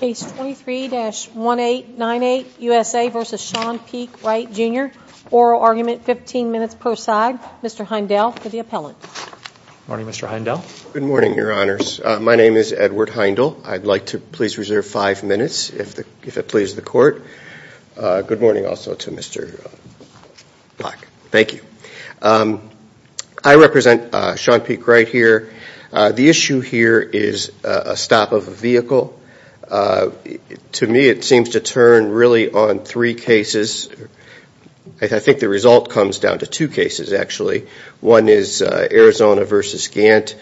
Case 23-1898 USA v. Shawn PeakeWright Jr. Oral argument 15 minutes per side. Mr. Heindel for the appellant. Morning, Mr. Heindel. Good morning, your honors. My name is Edward Heindel. I'd like to please reserve five minutes if it pleases the court. Good morning also to Mr. Black. Thank you. I represent Shawn PeakeWright here. The issue here is a stop of a vehicle. To me, it seems to turn really on three cases. I think the result comes down to two cases actually. One is Arizona v. Gantt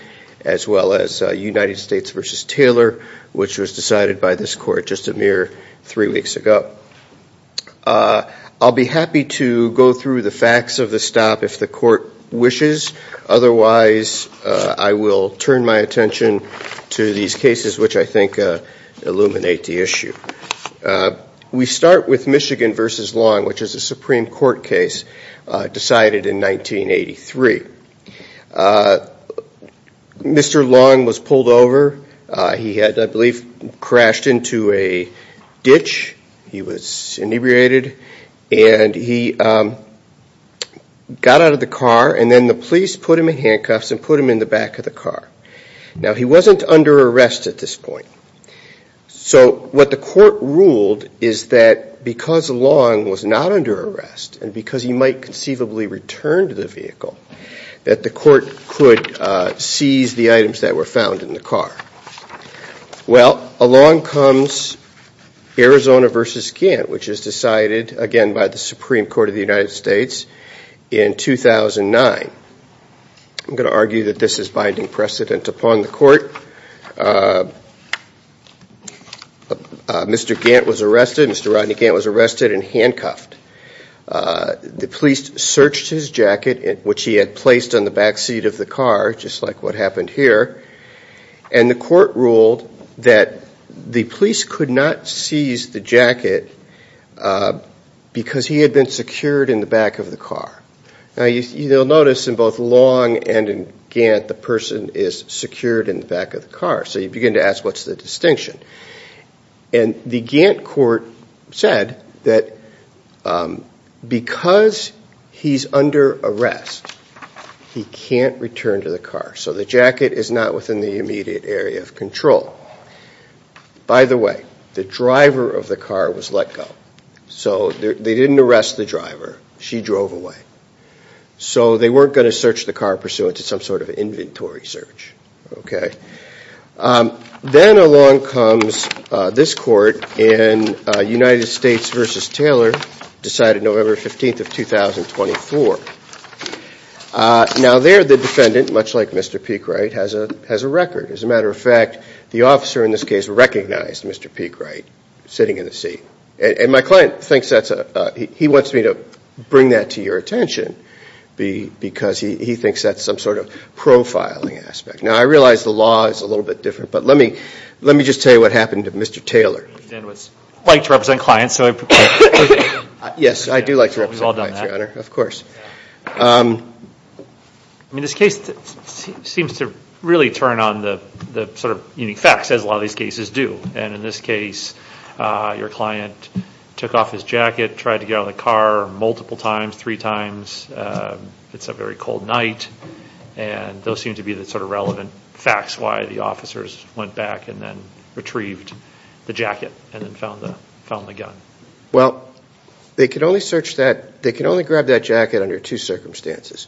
as well as United States v. Taylor, which was decided by this court just a mere three weeks ago. I'll be happy to go through the facts of the stop if the court wishes. Otherwise, I will turn my attention to these cases, which I think illuminate the issue. We start with Michigan v. Long, which is a Supreme Court case decided in 1983. Mr. Long was pulled over. He had, I believe, crashed into a ditch. He was inebriated and he got out of the car and then the police put him in handcuffs and put him in the back of the car. Now, he wasn't under arrest at this point. So what the court ruled is that because Long was not under arrest and because he might conceivably return to the vehicle, that the court could seize the items that were found in the car. Well, along comes Arizona v. Gantt, which is decided again by the Supreme Court of the United States in 2009. I'm going to argue that this is binding precedent upon the court. Mr. Gantt was arrested. Mr. Rodney Gantt was arrested and handcuffed. The police searched his jacket, which he had placed on the back seat of the car, just like what happened here, and the court ruled that the police could not seize the jacket because he had been secured in the back of the car. Now, you'll notice in both Long and in Gantt, the person is secured in the back of the car. So you begin to ask, what's the distinction? And the Gantt court said that because he's under arrest, he can't return to the car. So the jacket is not within the immediate area of control. By the way, the driver of the car was let go. So they didn't arrest the driver. She drove away. So they weren't going to search the car pursuant to some sort of inventory search, okay? Then along comes this court in United States v. Taylor, decided November 15th of 2024. Now there, the defendant, much like Mr. Peekwright, has a record. As a matter of fact, the officer in this case recognized Mr. Peekwright sitting in the seat. And my client thinks that's a, he wants me to bring that to your attention because he thinks that's some sort of profiling aspect. Now, I realize the law is a little bit different, but let me, let me just tell you what happened to Mr. Taylor. I like to represent clients, so I... Yes, I do like to represent clients, Your Honor. Of course. I mean this case seems to really turn on the sort of unique facts, as a lot of these cases do. And in this case, your client took off his jacket, tried to get out of the car multiple times, three times. It's a very cold night, and those seem to be the sort of relevant facts why the officers went back and then retrieved the jacket and then found the gun. Well, they could only search that, they can only grab that jacket under two circumstances.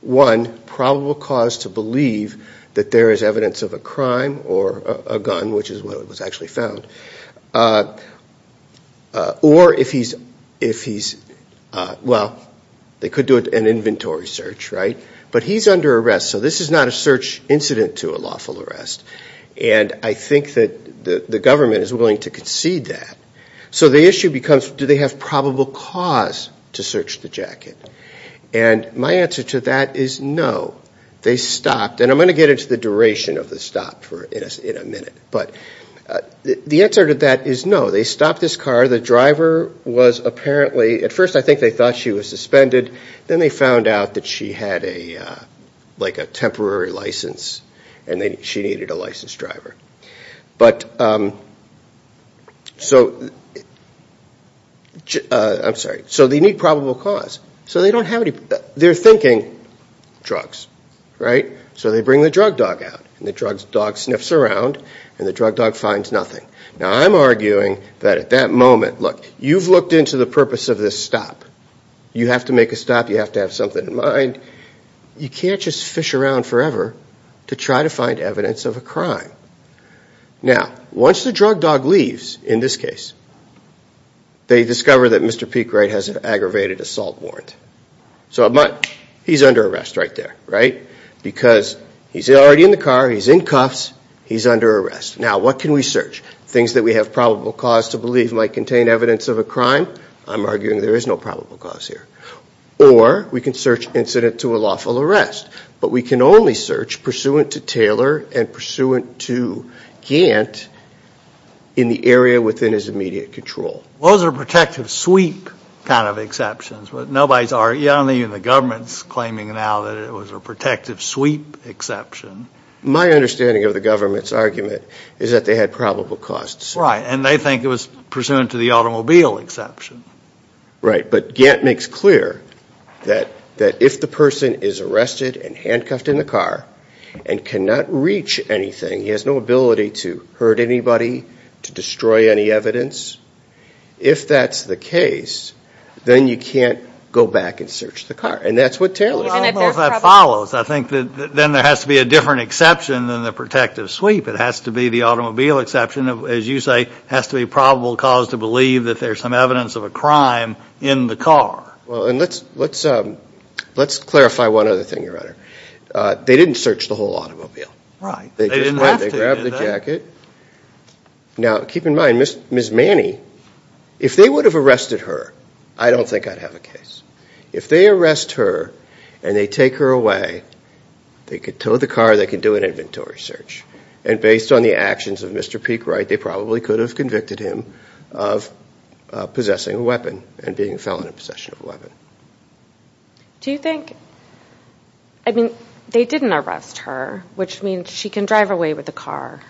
One, probable cause to believe that there is evidence of a crime or a gun, which is what was actually found. Or if he's, if he's, well, they could do an inventory search, right? But he's under arrest, so this is not a search incident to a lawful arrest. And I think that the government is willing to concede that. So the issue becomes, do they have probable cause to search the jacket? And my answer to that is no. They stopped, and I'm going to get into the duration of the stop for, in a minute, but the answer to that is no. They stopped this car, the driver was apparently, at first I think they thought she was suspended, then they found out that she had a like a temporary license, and then she needed a licensed driver. But, so, I'm sorry, so they need probable cause. So they don't have any, they're thinking drugs, right? So they bring the drug dog out, and the drug dog sniffs around, and the drug dog finds nothing. Now I'm arguing that at that moment, look, you've looked into the purpose of this stop. You have to make a stop, you have to have something in mind. You can't just fish around forever to try to find evidence of a crime. Now, once the drug dog leaves, in this case, they discover that Mr. Peekwright has an aggravated assault warrant. So he's under arrest right there, right? Because he's already in the car, he's in cuffs, he's under arrest. Now, what can we search? Things that we have probable cause to believe might contain evidence of a crime? I'm arguing there is no probable cause here. Or, we can search incident to a lawful arrest. But we can only search pursuant to Taylor, and pursuant to Gantt, in the area within his immediate control. Those are protective sweep kind of exceptions, but nobody's arguing, not even the government's claiming now that it was a protective sweep exception. My understanding of the government's argument is that they had probable cause. Right, and they think it was pursuant to the automobile exception. Right, but Gantt makes clear that if the person is arrested and handcuffed in the car and cannot reach anything, he has no ability to hurt anybody, to destroy any evidence, if that's the case, then you can't go back and search the car. And that's what Taylor's saying. Well, if that follows, I think that then there has to be a different exception than the protective sweep. It has to be the automobile exception, as you say, has to be probable cause to believe that there's some evidence of a crime in the car. Well, and let's, let's, let's clarify one other thing, Your Honor. They didn't search the whole automobile. Right. They grabbed the jacket. Now, keep in mind, Miss Manny, if they would have arrested her, I don't think I'd have a case. If they arrest her and they take her away, they could tow the car, they could do an inventory search, and based on the actions of Mr. Peekwright, they probably could have convicted him of possessing a weapon and being a felon in possession of a weapon. Do you think, I mean, they didn't arrest her, which means she can drive away with the car.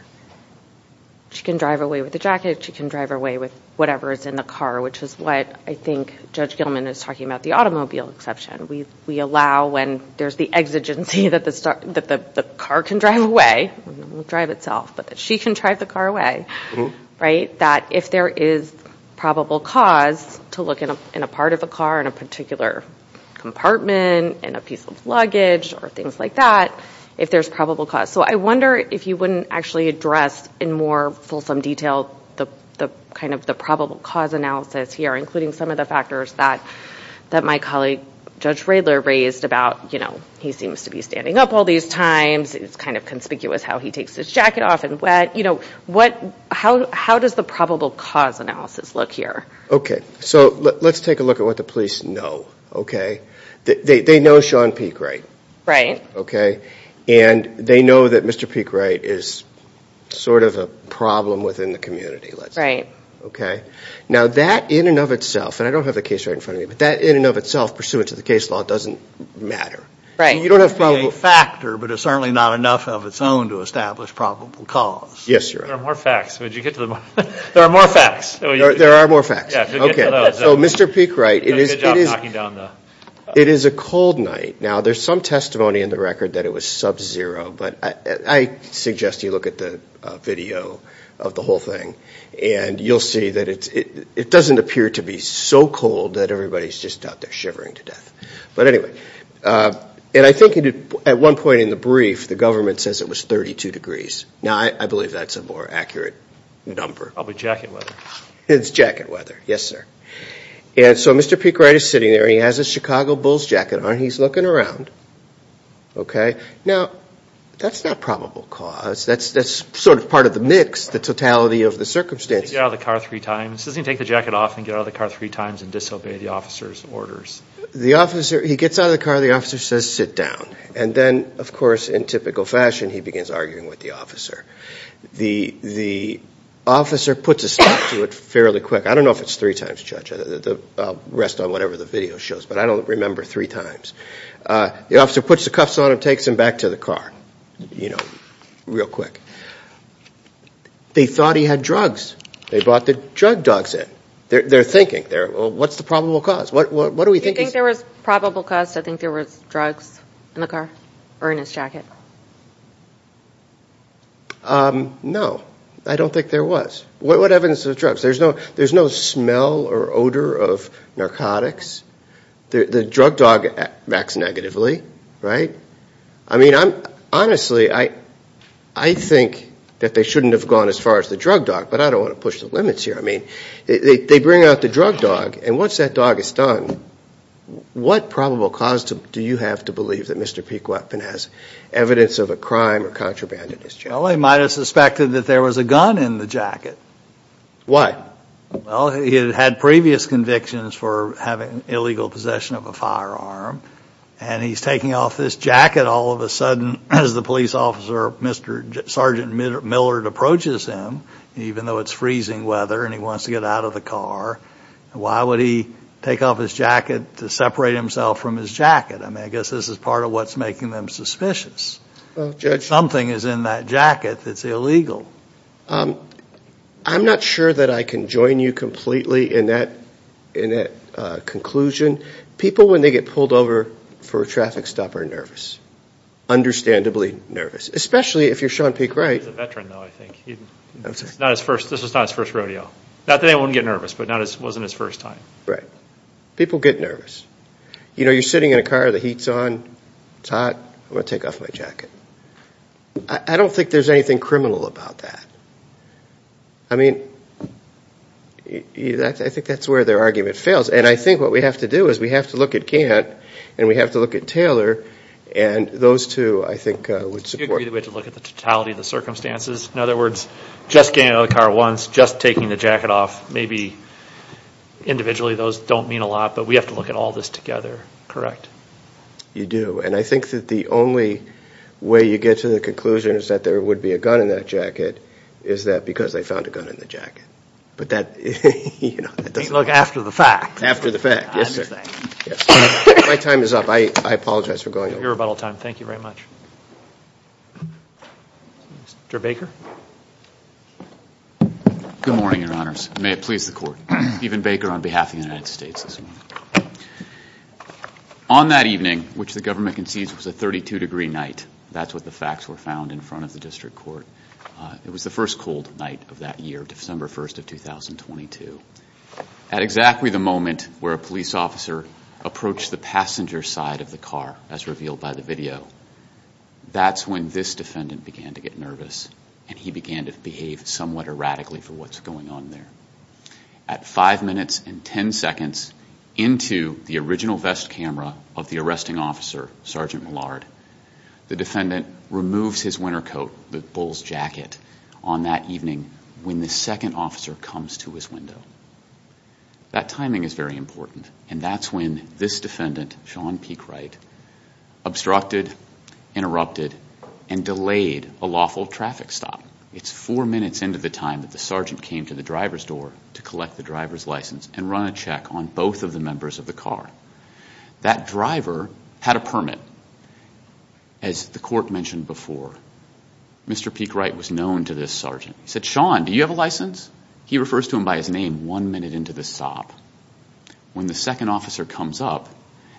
She can drive away with the jacket. She can drive away with whatever is in the car, which is what I think Judge Gilman is talking about, the automobile exception. We, we allow when there's the exigency that the car can drive away, drive itself, but that she can drive the car away. Right, that if there is probable cause to look in a part of a car, in a particular compartment, in a piece of luggage, or things like that, if there's probable cause. So I wonder if you wouldn't actually address in more fulsome detail the kind of the probable cause analysis here, including some of the factors that that my colleague Judge Radler raised about, you know, he seems to be standing up all these times. It's kind of conspicuous how he takes his jacket off and what, you know, what, how, how does the probable cause analysis look here? Okay, so let's take a look at what the police know. Okay, they know Sean Peekwright. Right. Okay, and they know that Mr. Peekwright is sort of a problem within the community. Right. Okay. Now that in and of itself, and I don't have the case right in front of me, but that in and of itself pursuant to the case law doesn't matter. Right. You don't have to be a factor, but it's certainly not enough of its own to establish probable cause. Yes, you're right. There are more facts. There are more facts. There are more facts. Okay, so Mr. Peekwright, it is, it is, it is a cold night. Now, there's some testimony in the record that it was sub-zero, but I suggest you look at the video of the whole thing, and you'll see that it's, it doesn't appear to be so cold that everybody's just out there shivering to death. But anyway, and I think at one point in the brief, the government says it was 32 degrees. Now, I believe that's a more accurate number. Probably jacket weather. It's jacket weather. Yes, sir. And so Mr. Peekwright is sitting there. He has a Chicago Bulls jacket on. He's looking around. Okay. Now, that's not probable cause. That's, that's sort of part of the mix, the totality of the circumstances. Get out of the car three times. He says he can take the jacket off and get out of the car three times and disobey the officer's orders. The officer, he gets out of the car. The officer says sit down. And then, of course, in typical fashion, he begins arguing with the officer. The, the officer puts a stop to it fairly quick. I don't know if it's three times, Judge. I'll rest on whatever the video shows, but I don't remember three times. The officer puts the cuffs on him, takes him back to the car, you know, real quick. They thought he had drugs. They brought the drug dogs in. They're thinking, they're, well, what's the probable cause? What, what, what do we think is... Do you think there was probable cause to think there was drugs in the car or in his jacket? No, I don't think there was. What, what evidence of drugs? There's no, there's no smell or odor of narcotics. The, the drug dog acts negatively, right? I mean, I'm, honestly, I, I think that they shouldn't have gone as far as the drug dog, but I don't want to push the limits here. I mean, they, they bring out the drug dog, and once that dog is done, what probable cause to, do you have to believe that Mr. Pequodpin has evidence of a crime or contraband in his jacket? Well, they might have suspected that there was a gun in the jacket. Why? Well, he had had previous convictions for having illegal possession of a firearm, and he's taking off this jacket, all of a sudden, as the police officer, Mr., Sergeant Millard approaches him, even though it's freezing weather, and he wants to get out of the car. Why would he take off his jacket to separate himself from his jacket? I mean, I guess this is part of what's making them suspicious. Well, Judge... Something is in that jacket that's illegal. I'm not sure that I can join you completely in that, in that conclusion. People, when they get pulled over for a traffic stop, are nervous, understandably nervous, especially if you're Sean Pequod... He's a veteran, though, I think. Not his first, this was not his first rodeo. Not that he wouldn't get nervous, but not, it wasn't his first time. Right. People get nervous. You know, you're sitting in a car, the heat's on, it's hot, I'm going to take off my jacket. I don't think there's anything criminal about that. I mean, I think that's where their argument fails, and I think what we have to do is, we have to look at Gant, and we have to look at Taylor, and those two, I think, would support... You agree that we have to look at the totality of the circumstances? In other words, just getting out of the car once, just taking the jacket off, maybe individually, those don't mean a lot, but we have to look at all this together, correct? You do, and I think that the only way you get to the conclusion is that there would be a gun in that jacket, is that because they found a gun in the jacket. But that, you know, it doesn't... You look after the fact. After the fact, yes, sir. My time is up. I apologize for going over. Your rebuttal time, thank you very much. Mr. Baker? Good morning, Your Honors. May it please the Court. Stephen Baker on behalf of the United States this morning. On that evening, which the government concedes was a 32-degree night, that's what the facts were found in front of the district court, it was the first cold night of that year, December 1st of 2022. At exactly the moment where a police officer approached the passenger side of the car, as revealed by the video, that's when this defendant began to get nervous, and he began to behave somewhat erratically for what's going on there. At five minutes and ten seconds into the original vest camera of the arresting officer, Sergeant Millard, the defendant removes his winter coat, the bull's jacket, on that evening when the second officer comes to his window. That timing is very important, and that's when this defendant, Sean Peekwright, obstructed, interrupted, and delayed a lawful traffic stop. It's four minutes into the time that the sergeant came to the driver's door to collect the driver's license and run a check on both of the members of the car. That driver had a permit, as the court mentioned before. Mr. Peekwright was known to this sergeant. He said, Sean, do you have a license? He refers to him by his name one minute into the stop. When the second officer comes up,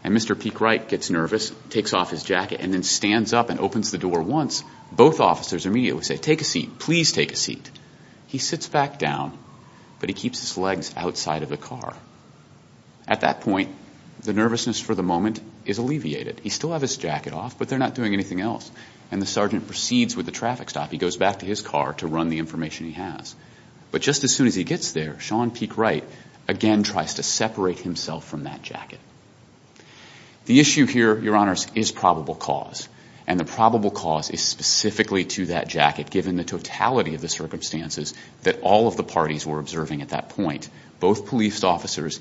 and Mr. Peekwright gets nervous, takes off his jacket, and then stands up and opens the door once, both officers immediately say, take a seat, please take a seat. He sits back down, but he keeps his legs outside of the car. At that point, the nervousness for the moment is alleviated. He still has his jacket off, but they're not doing anything else, and the sergeant proceeds with the traffic stop. He goes back to his car to run the information he has. But just as soon as he gets there, Sean Peekwright again tries to separate himself from that jacket. The issue here, Your Honors, is probable cause, and the probable cause is specifically to that jacket, given the totality of the circumstances that all of the parties were observing at that point. Both police officers,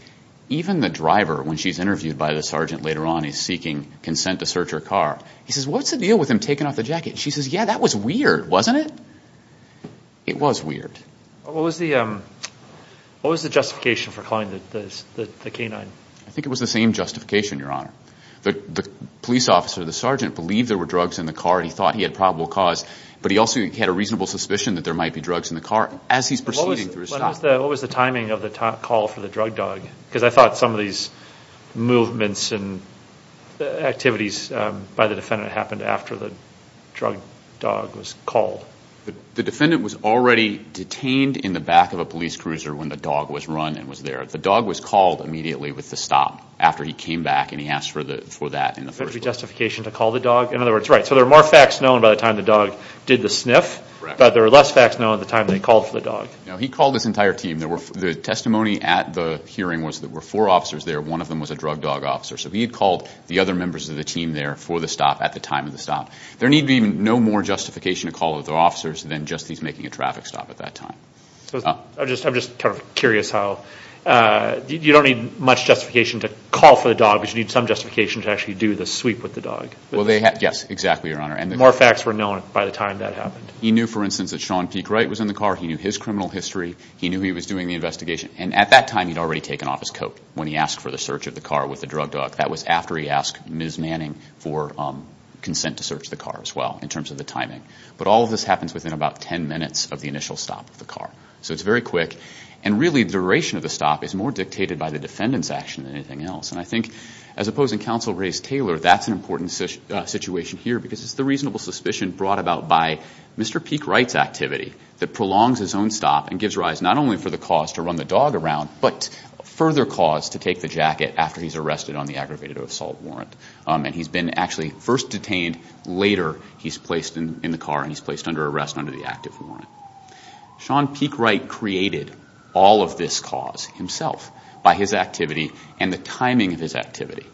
even the driver, when she's interviewed by the sergeant later on, is seeking consent to search her car. He says, what's the deal with him taking off the jacket? She says, yeah, that was weird, wasn't it? It was weird. What was the justification for calling the canine? I think it was the same justification, Your Honor. The police officer, the sergeant, believed there were drugs in the car. He thought he had probable cause, but he also had a reasonable suspicion that there might be drugs in the car as he's proceeding through his stop. What was the timing of the call for the drug dog? Because I thought some of these movements and activities by the defendant happened after the drug dog was called. The defendant was already detained in the back of a police cruiser when the dog was run and was there. The dog was called immediately with the stop after he came back and he asked for that in the first place. Could there be justification to call the dog? In other words, right, so there are more facts known by the time the dog did the sniff, but there are less facts known at the time they called for the dog. No, he called this entire team. The testimony at the hearing was that there were four officers there. One of them was a drug dog officer. So he had called the other members of the team there for the stop at the time of the stop. There need be no more justification to call the officers than just he's making a traffic stop at that time. I'm just curious how, you don't need much justification to call for the dog, but you need some justification to actually do the sweep with the dog. Well, yes, exactly, Your Honor. More facts were known by the time that happened. He knew, for instance, that Sean Peake Wright was in the car. He knew his criminal history. He knew he was doing the investigation. And at that time, he'd already taken off his coat when he asked for the search of the car with the drug dog. That was after he asked Ms. Manning for consent to search the car as well in terms of the timing. But all of this happens within about 10 minutes of the initial stop of the car. So it's very quick. And really, the duration of the stop is more dictated by the defendant's action than anything else. And I think, as opposed in counsel Ray's Taylor, that's an important situation here because it's the reasonable suspicion brought about by Mr. Peake Wright's activity that prolongs his own stop and gives rise not only for the cause to run the dog around, but further cause to take the jacket after he's arrested on the aggravated assault warrant. And he's been actually first detained. Later, he's placed in the car and he's placed under arrest under the active warrant. Sean Peake Wright created all of this cause himself by his activity and the timing of his activity.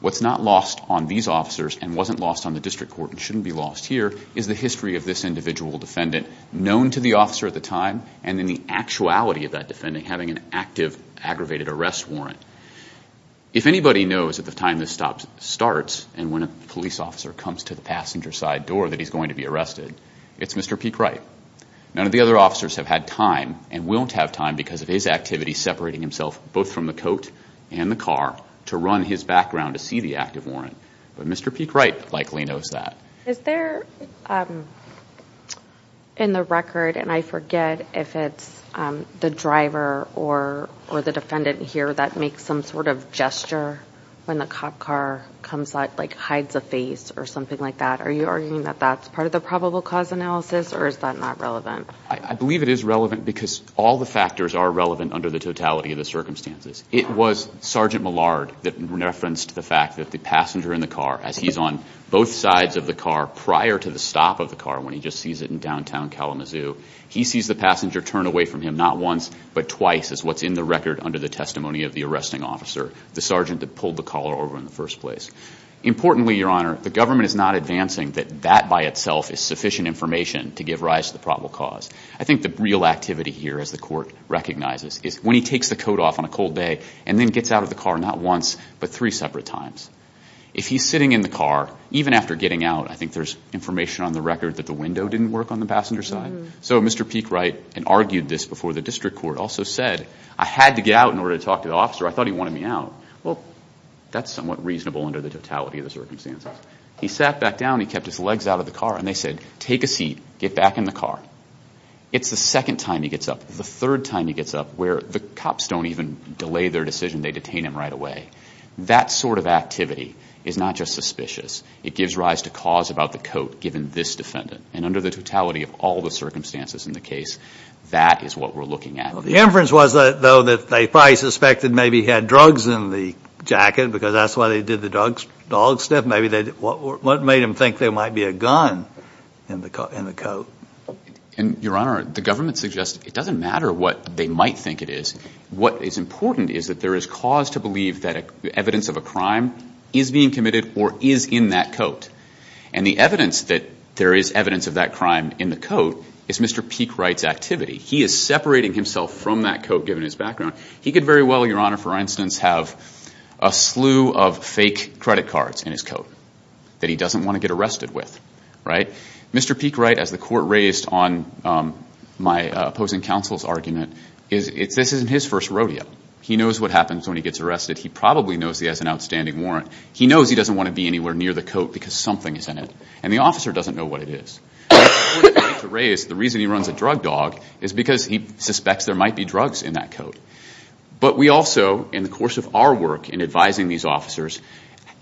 What's not lost on these officers and wasn't lost on the district court and shouldn't be lost here is the history of this individual defendant known to the officer at the time and then the actuality of that defendant having an active aggravated arrest warrant. If anybody knows at the time this stop starts and when a police officer comes to the passenger side door that he's going to be arrested, it's Mr. Peake Wright. None of the other officers have had time and won't have time because of his activity, separating himself both from the coat and the car to run his background to see the active warrant. But Mr. Peake Wright likely knows that. Is there in the record, and I forget if it's the driver or the defendant here that makes some sort of gesture when the cop car comes out, like hides a face or something like that. Are you arguing that that's part of the probable cause analysis or is that not relevant? I believe it is relevant because all the factors are relevant under the totality of the circumstances. It was Sergeant Millard that referenced the fact that the passenger in the car, as he's on both sides of the car prior to the stop of the car when he just sees it in downtown Kalamazoo, he sees the passenger turn away from him not once but twice as what's in the record under the testimony of the arresting officer, the sergeant that pulled the collar over in the first place. Importantly, Your Honor, the government is not advancing that that by itself is sufficient information to give rise to the probable cause. I think the real activity here, as the court recognizes, is when he takes the coat off on a cold day and then gets out of the car not once but three separate times. If he's sitting in the car, even after getting out, I think there's information on the record that the window didn't work on the passenger side. So Mr. Peekwright had argued this before the district court also said, I had to get out in order to talk to the officer, I thought he wanted me out. Well, that's somewhat reasonable under the totality of the circumstances. He sat back down, he kept his legs out of the car and they said, take a seat, get back in the car. It's the second time he gets up, the third time he gets up where the cops don't even delay their decision, they detain him right away. That sort of activity is not just suspicious. It gives rise to cause about the coat given this defendant. And under the totality of all the circumstances in the case, that is what we're looking at. Well, the inference was though that they probably suspected maybe he had drugs in the jacket because that's why they did the dog sniff. Maybe they, what made them think there might be a gun in the coat? And, Your Honor, the government suggests it doesn't matter what they might think it is. What is important is that there is cause to believe that evidence of a crime is being committed or is in that coat. And the evidence that there is evidence of that crime in the coat is Mr. Peekwright's activity. He is separating himself from that coat given his background. He could very well, Your Honor, for instance, have a slew of fake credit cards in his coat that he doesn't want to get arrested with, right? Mr. Peekwright, as the court raised on my opposing counsel's argument, is this isn't his first rodeo. He knows what happens when he gets arrested. He probably knows he has an outstanding warrant. He knows he doesn't want to be anywhere near the coat because something is in it. And the officer doesn't know what it is. The reason he runs a drug dog is because he suspects there might be drugs in that coat. But we also, in the course of our work in advising these officers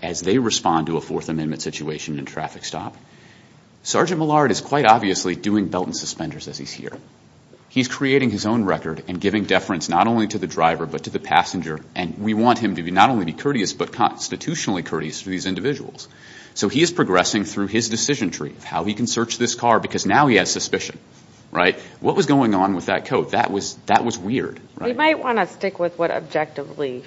as they respond to a Fourth Amendment situation in a traffic stop. Sergeant Millard is quite obviously doing belt and suspenders as he's here. He's creating his own record and giving deference not only to the driver but to the passenger. And we want him to not only be courteous but constitutionally courteous to these individuals. So he is progressing through his decision tree of how he can search this car because now he has suspicion, right? What was going on with that coat? That was weird, right? We might want to stick with what objectively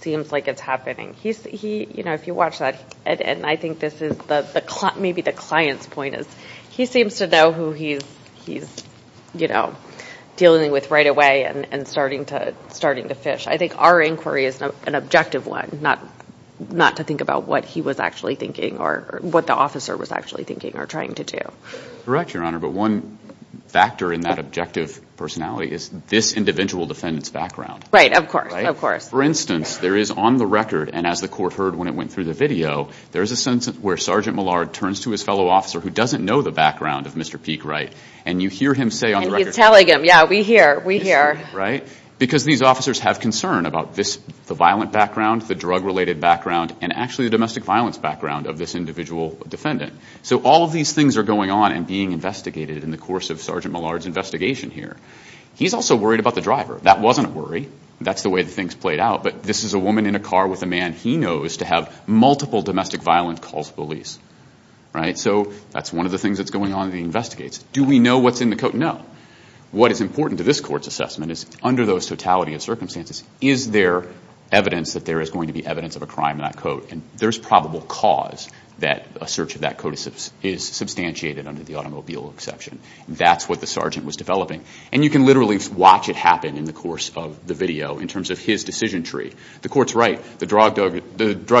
seems like it's happening. He's, you know, if you watch that, and I think this is maybe the client's point is he seems to know who he's, you know, dealing with right away and starting to fish. I think our inquiry is an objective one, not to think about what he was actually thinking or what the officer was actually thinking or trying to do. Correct, Your Honor, but one factor in that objective personality is this individual defendant's background. Right, of course, of course. For instance, there is on the record, and as the court heard when it went through the video, there is a sentence where Sergeant Millard turns to his fellow officer who doesn't know the background of Mr. Peekwright, and you hear him say on the record. And he's telling him, yeah, we hear, we hear. Right? Because these officers have concern about this, the violent background, the drug-related background, and actually the domestic violence background of this individual defendant. So all of these things are going on and being investigated in the course of Sergeant Millard's investigation here. He's also worried about the driver. That wasn't a worry. That's the way things played out. But this is a woman in a car with a man he knows to have multiple domestic violence calls police. Right? So that's one of the things that's going on and being investigated. Do we know what's in the coat? No. What is important to this court's assessment is under those totality of circumstances, is there evidence that there is going to be evidence of a crime in that coat? And there's probable cause that a search of that coat is substantiated under the automobile exception. That's what the sergeant was developing. And you can literally watch it happen in the course of the video in terms of his decision tree. The court's right. The drug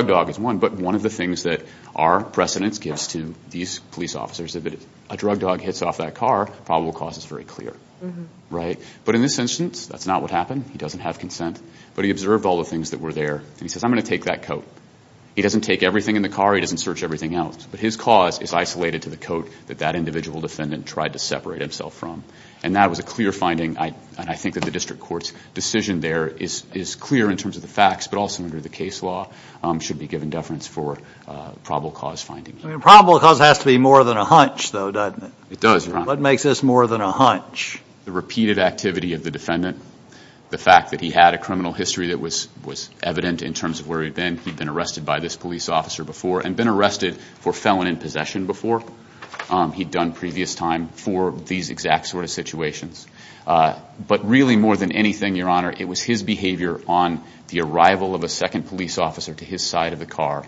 dog is one, but one of the things that our precedence gives to these police officers that a drug dog hits off that car, probable cause is very clear. Right? But in this instance, that's not what happened. He doesn't have consent. But he observed all the things that were there, and he says, I'm going to take that coat. He doesn't take everything in the car. He doesn't search everything else. But his cause is isolated to the coat that that individual defendant tried to separate himself from. And that was a clear finding, and I think that the district court's decision there is clear in terms of the facts, but also under the case law should be given deference for probable cause findings. I mean, probable cause has to be more than a hunch, though, doesn't it? It does, Your Honor. What makes this more than a hunch? The repeated activity of the defendant. The fact that he had a criminal history that was evident in terms of where he'd been. He'd been arrested by this police officer before and been arrested for felon and possession before. He'd done previous time for these exact sort of situations. But really, more than anything, Your Honor, it was his behavior on the arrival of a second police officer to his side of the car.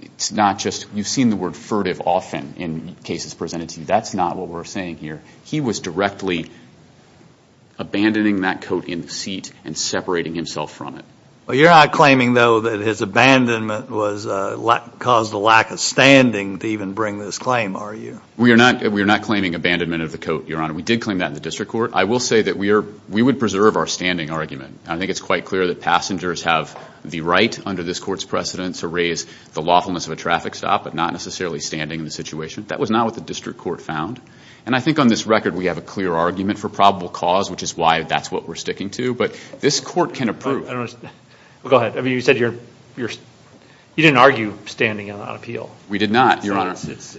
It's not just, you've seen the word furtive often in cases presented to you. That's not what we're saying here. He was directly abandoning that coat in the seat and separating himself from it. Well, you're not claiming, though, that his abandonment caused a lack of standing to even bring this claim, are you? We are not claiming abandonment of the coat, Your Honor. We did claim that in the district court. I will say that we would preserve our standing argument. I think it's quite clear that passengers have the right under this court's precedence to raise the lawfulness of a traffic stop, but not necessarily standing in the situation. That was not what the district court found. And I think on this record we have a clear argument for probable cause, which is why that's what we're sticking to. But this court can approve. Go ahead. I mean, you said you're, you didn't argue standing on appeal. We did not, Your Honor.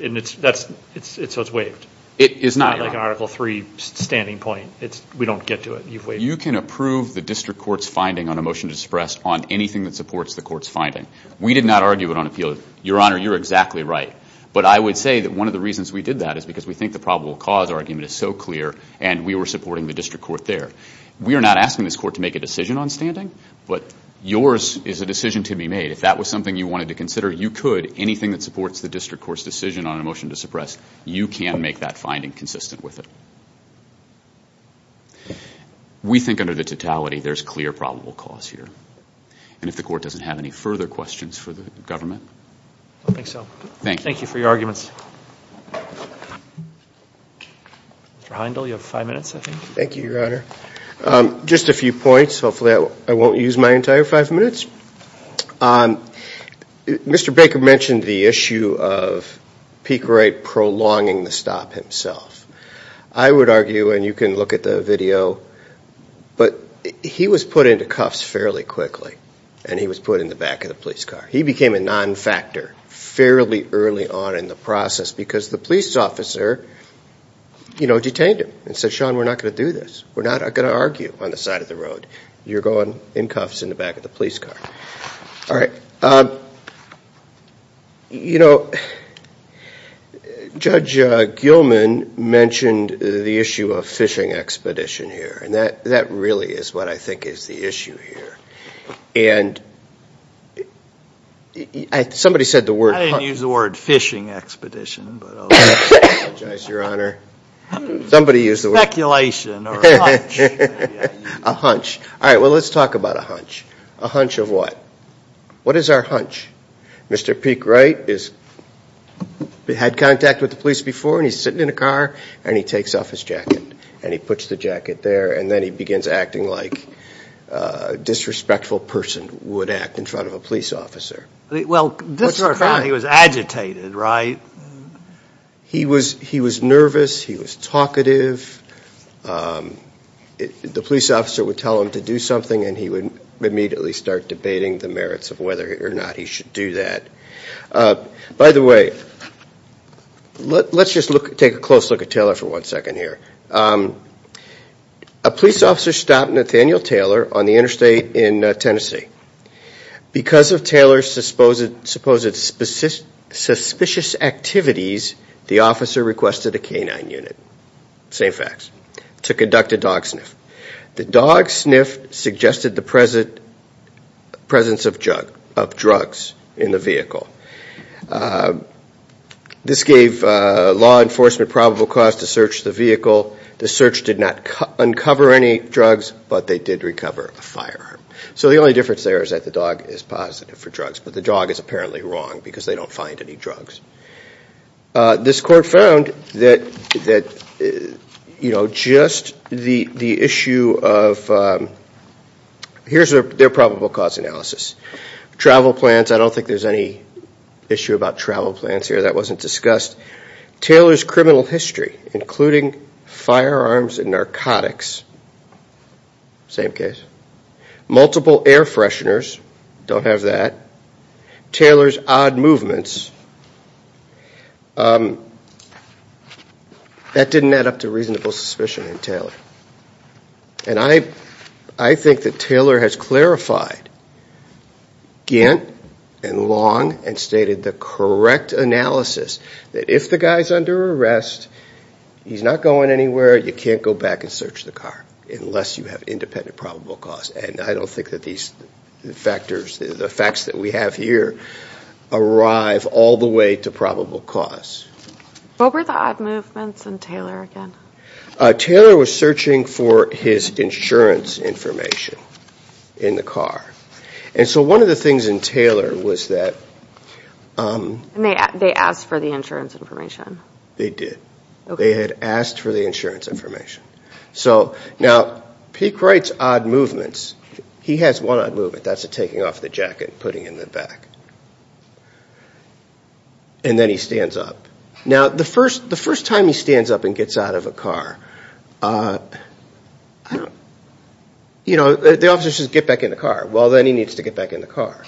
And so it's waived. It is not, Your Honor. It's not like an Article 3 standing point. It's, we don't get to it. You've waived it. You can approve the district court's finding on a motion to suppress on anything that supports the court's finding. We did not argue it on appeal. Your Honor, you're exactly right. But I would say that one of the reasons we did that is because we think the probable cause argument is so clear and we were supporting the district court there. We are not asking this court to make a decision on standing. But yours is a decision to be made. If that was something you wanted to consider, you could. Anything that supports the district court's decision on a motion to suppress, you can make that finding consistent with it. We think under the totality, there's clear probable cause here. And if the court doesn't have any further questions for the government. I don't think so. Thank you. Thank you for your arguments. Mr. Heindel, you have five minutes, I think. Thank you, Your Honor. Just a few points. Hopefully, I won't use my entire five minutes. Mr. Baker mentioned the issue of Peake Wright prolonging the stop himself. I would argue, and you can look at the video, but he was put into cuffs fairly quickly and he was put in the back of the police car. He became a non-factor fairly early on in the process because the police officer detained him and said, Sean, we're not going to do this. We're not going to argue on the side of the road. You're going in cuffs in the back of the police car. All right. You know, Judge Gilman mentioned the issue of fishing expedition here. And that really is what I think is the issue here. And somebody said the word. I didn't use the word fishing expedition, but I'll just apologize, Your Honor. Somebody used the word. Speculation or a hunch. A hunch. All right. Well, let's talk about a hunch. A hunch of what? What is our hunch? Mr. Peake Wright had contact with the police before and he's sitting in a car and he takes off his jacket and he puts the jacket there and then he begins acting like a disrespectful person would act in front of a police officer. What's the crime? He was agitated, right? He was nervous. He was talkative. The police officer would tell him to do something and he would immediately start debating the merits of whether or not he should do that. By the way, let's just take a close look at Taylor for one second here. A police officer stopped Nathaniel Taylor on the interstate in Tennessee. Because of Taylor's supposed suspicious activities, the officer requested a canine unit. Same facts. To conduct a dog sniff. The dog sniff suggested the presence of drugs in the vehicle. This gave law enforcement probable cause to search the vehicle. The search did not uncover any drugs, but they did recover a firearm. So the only difference there is that the dog is positive for drugs, but the dog is apparently wrong because they don't find any drugs. This court found that, you know, just the issue of, here's their probable cause analysis. Travel plans, I don't think there's any issue about travel plans here. That wasn't discussed. Taylor's criminal history, including firearms and narcotics, same case. Multiple air fresheners, don't have that. Taylor's odd movements, that didn't add up to reasonable suspicion in Taylor. And I think that Taylor has clarified Gant and Long and stated the correct analysis that if the guy's under arrest, he's not going anywhere, you can't go back and search the car unless you have independent probable cause. And I don't think that these factors, the facts that we have here, arrive all the way to probable cause. What were the odd movements in Taylor again? Taylor was searching for his insurance information in the car. And so one of the things in Taylor was that. They asked for the insurance information. They did. They had asked for the insurance information. So now, he creates odd movements. He has one odd movement. That's a taking off the jacket and putting it in the back. And then he stands up. Now, the first time he stands up and gets out of a car, I don't. You know, the officer says, get back in the car. Well, then he needs to get back in the car.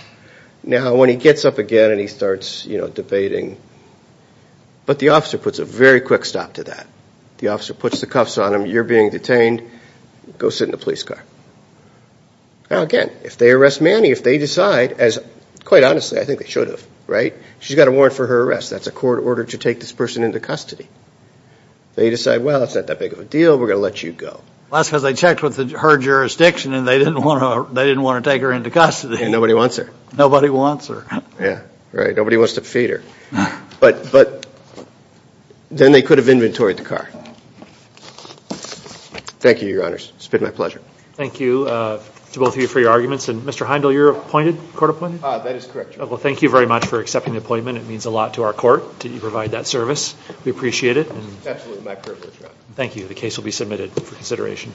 Now, when he gets up again and he starts, you know, debating. But the officer puts a very quick stop to that. The officer puts the cuffs on him. You're being detained. Go sit in the police car. Now, again, if they arrest Manny, if they decide, as quite honestly, I think they should have, right? She's got a warrant for her arrest. That's a court order to take this person into custody. They decide, well, it's not that big of a deal. We're going to let you go. That's because they checked with her jurisdiction and they didn't want to take her into custody. And nobody wants her. Nobody wants her. Yeah, right. Nobody wants to feed her. But then they could have inventoried the car. Thank you, your honors. It's been my pleasure. Thank you to both of you for your arguments. And Mr. Heindel, you're appointed, court appointed? Ah, that is correct, your honor. Well, thank you very much for accepting the appointment. It means a lot to our court that you provide that service. We appreciate it. It's absolutely my privilege, your honor. Thank you. The case will be submitted for consideration.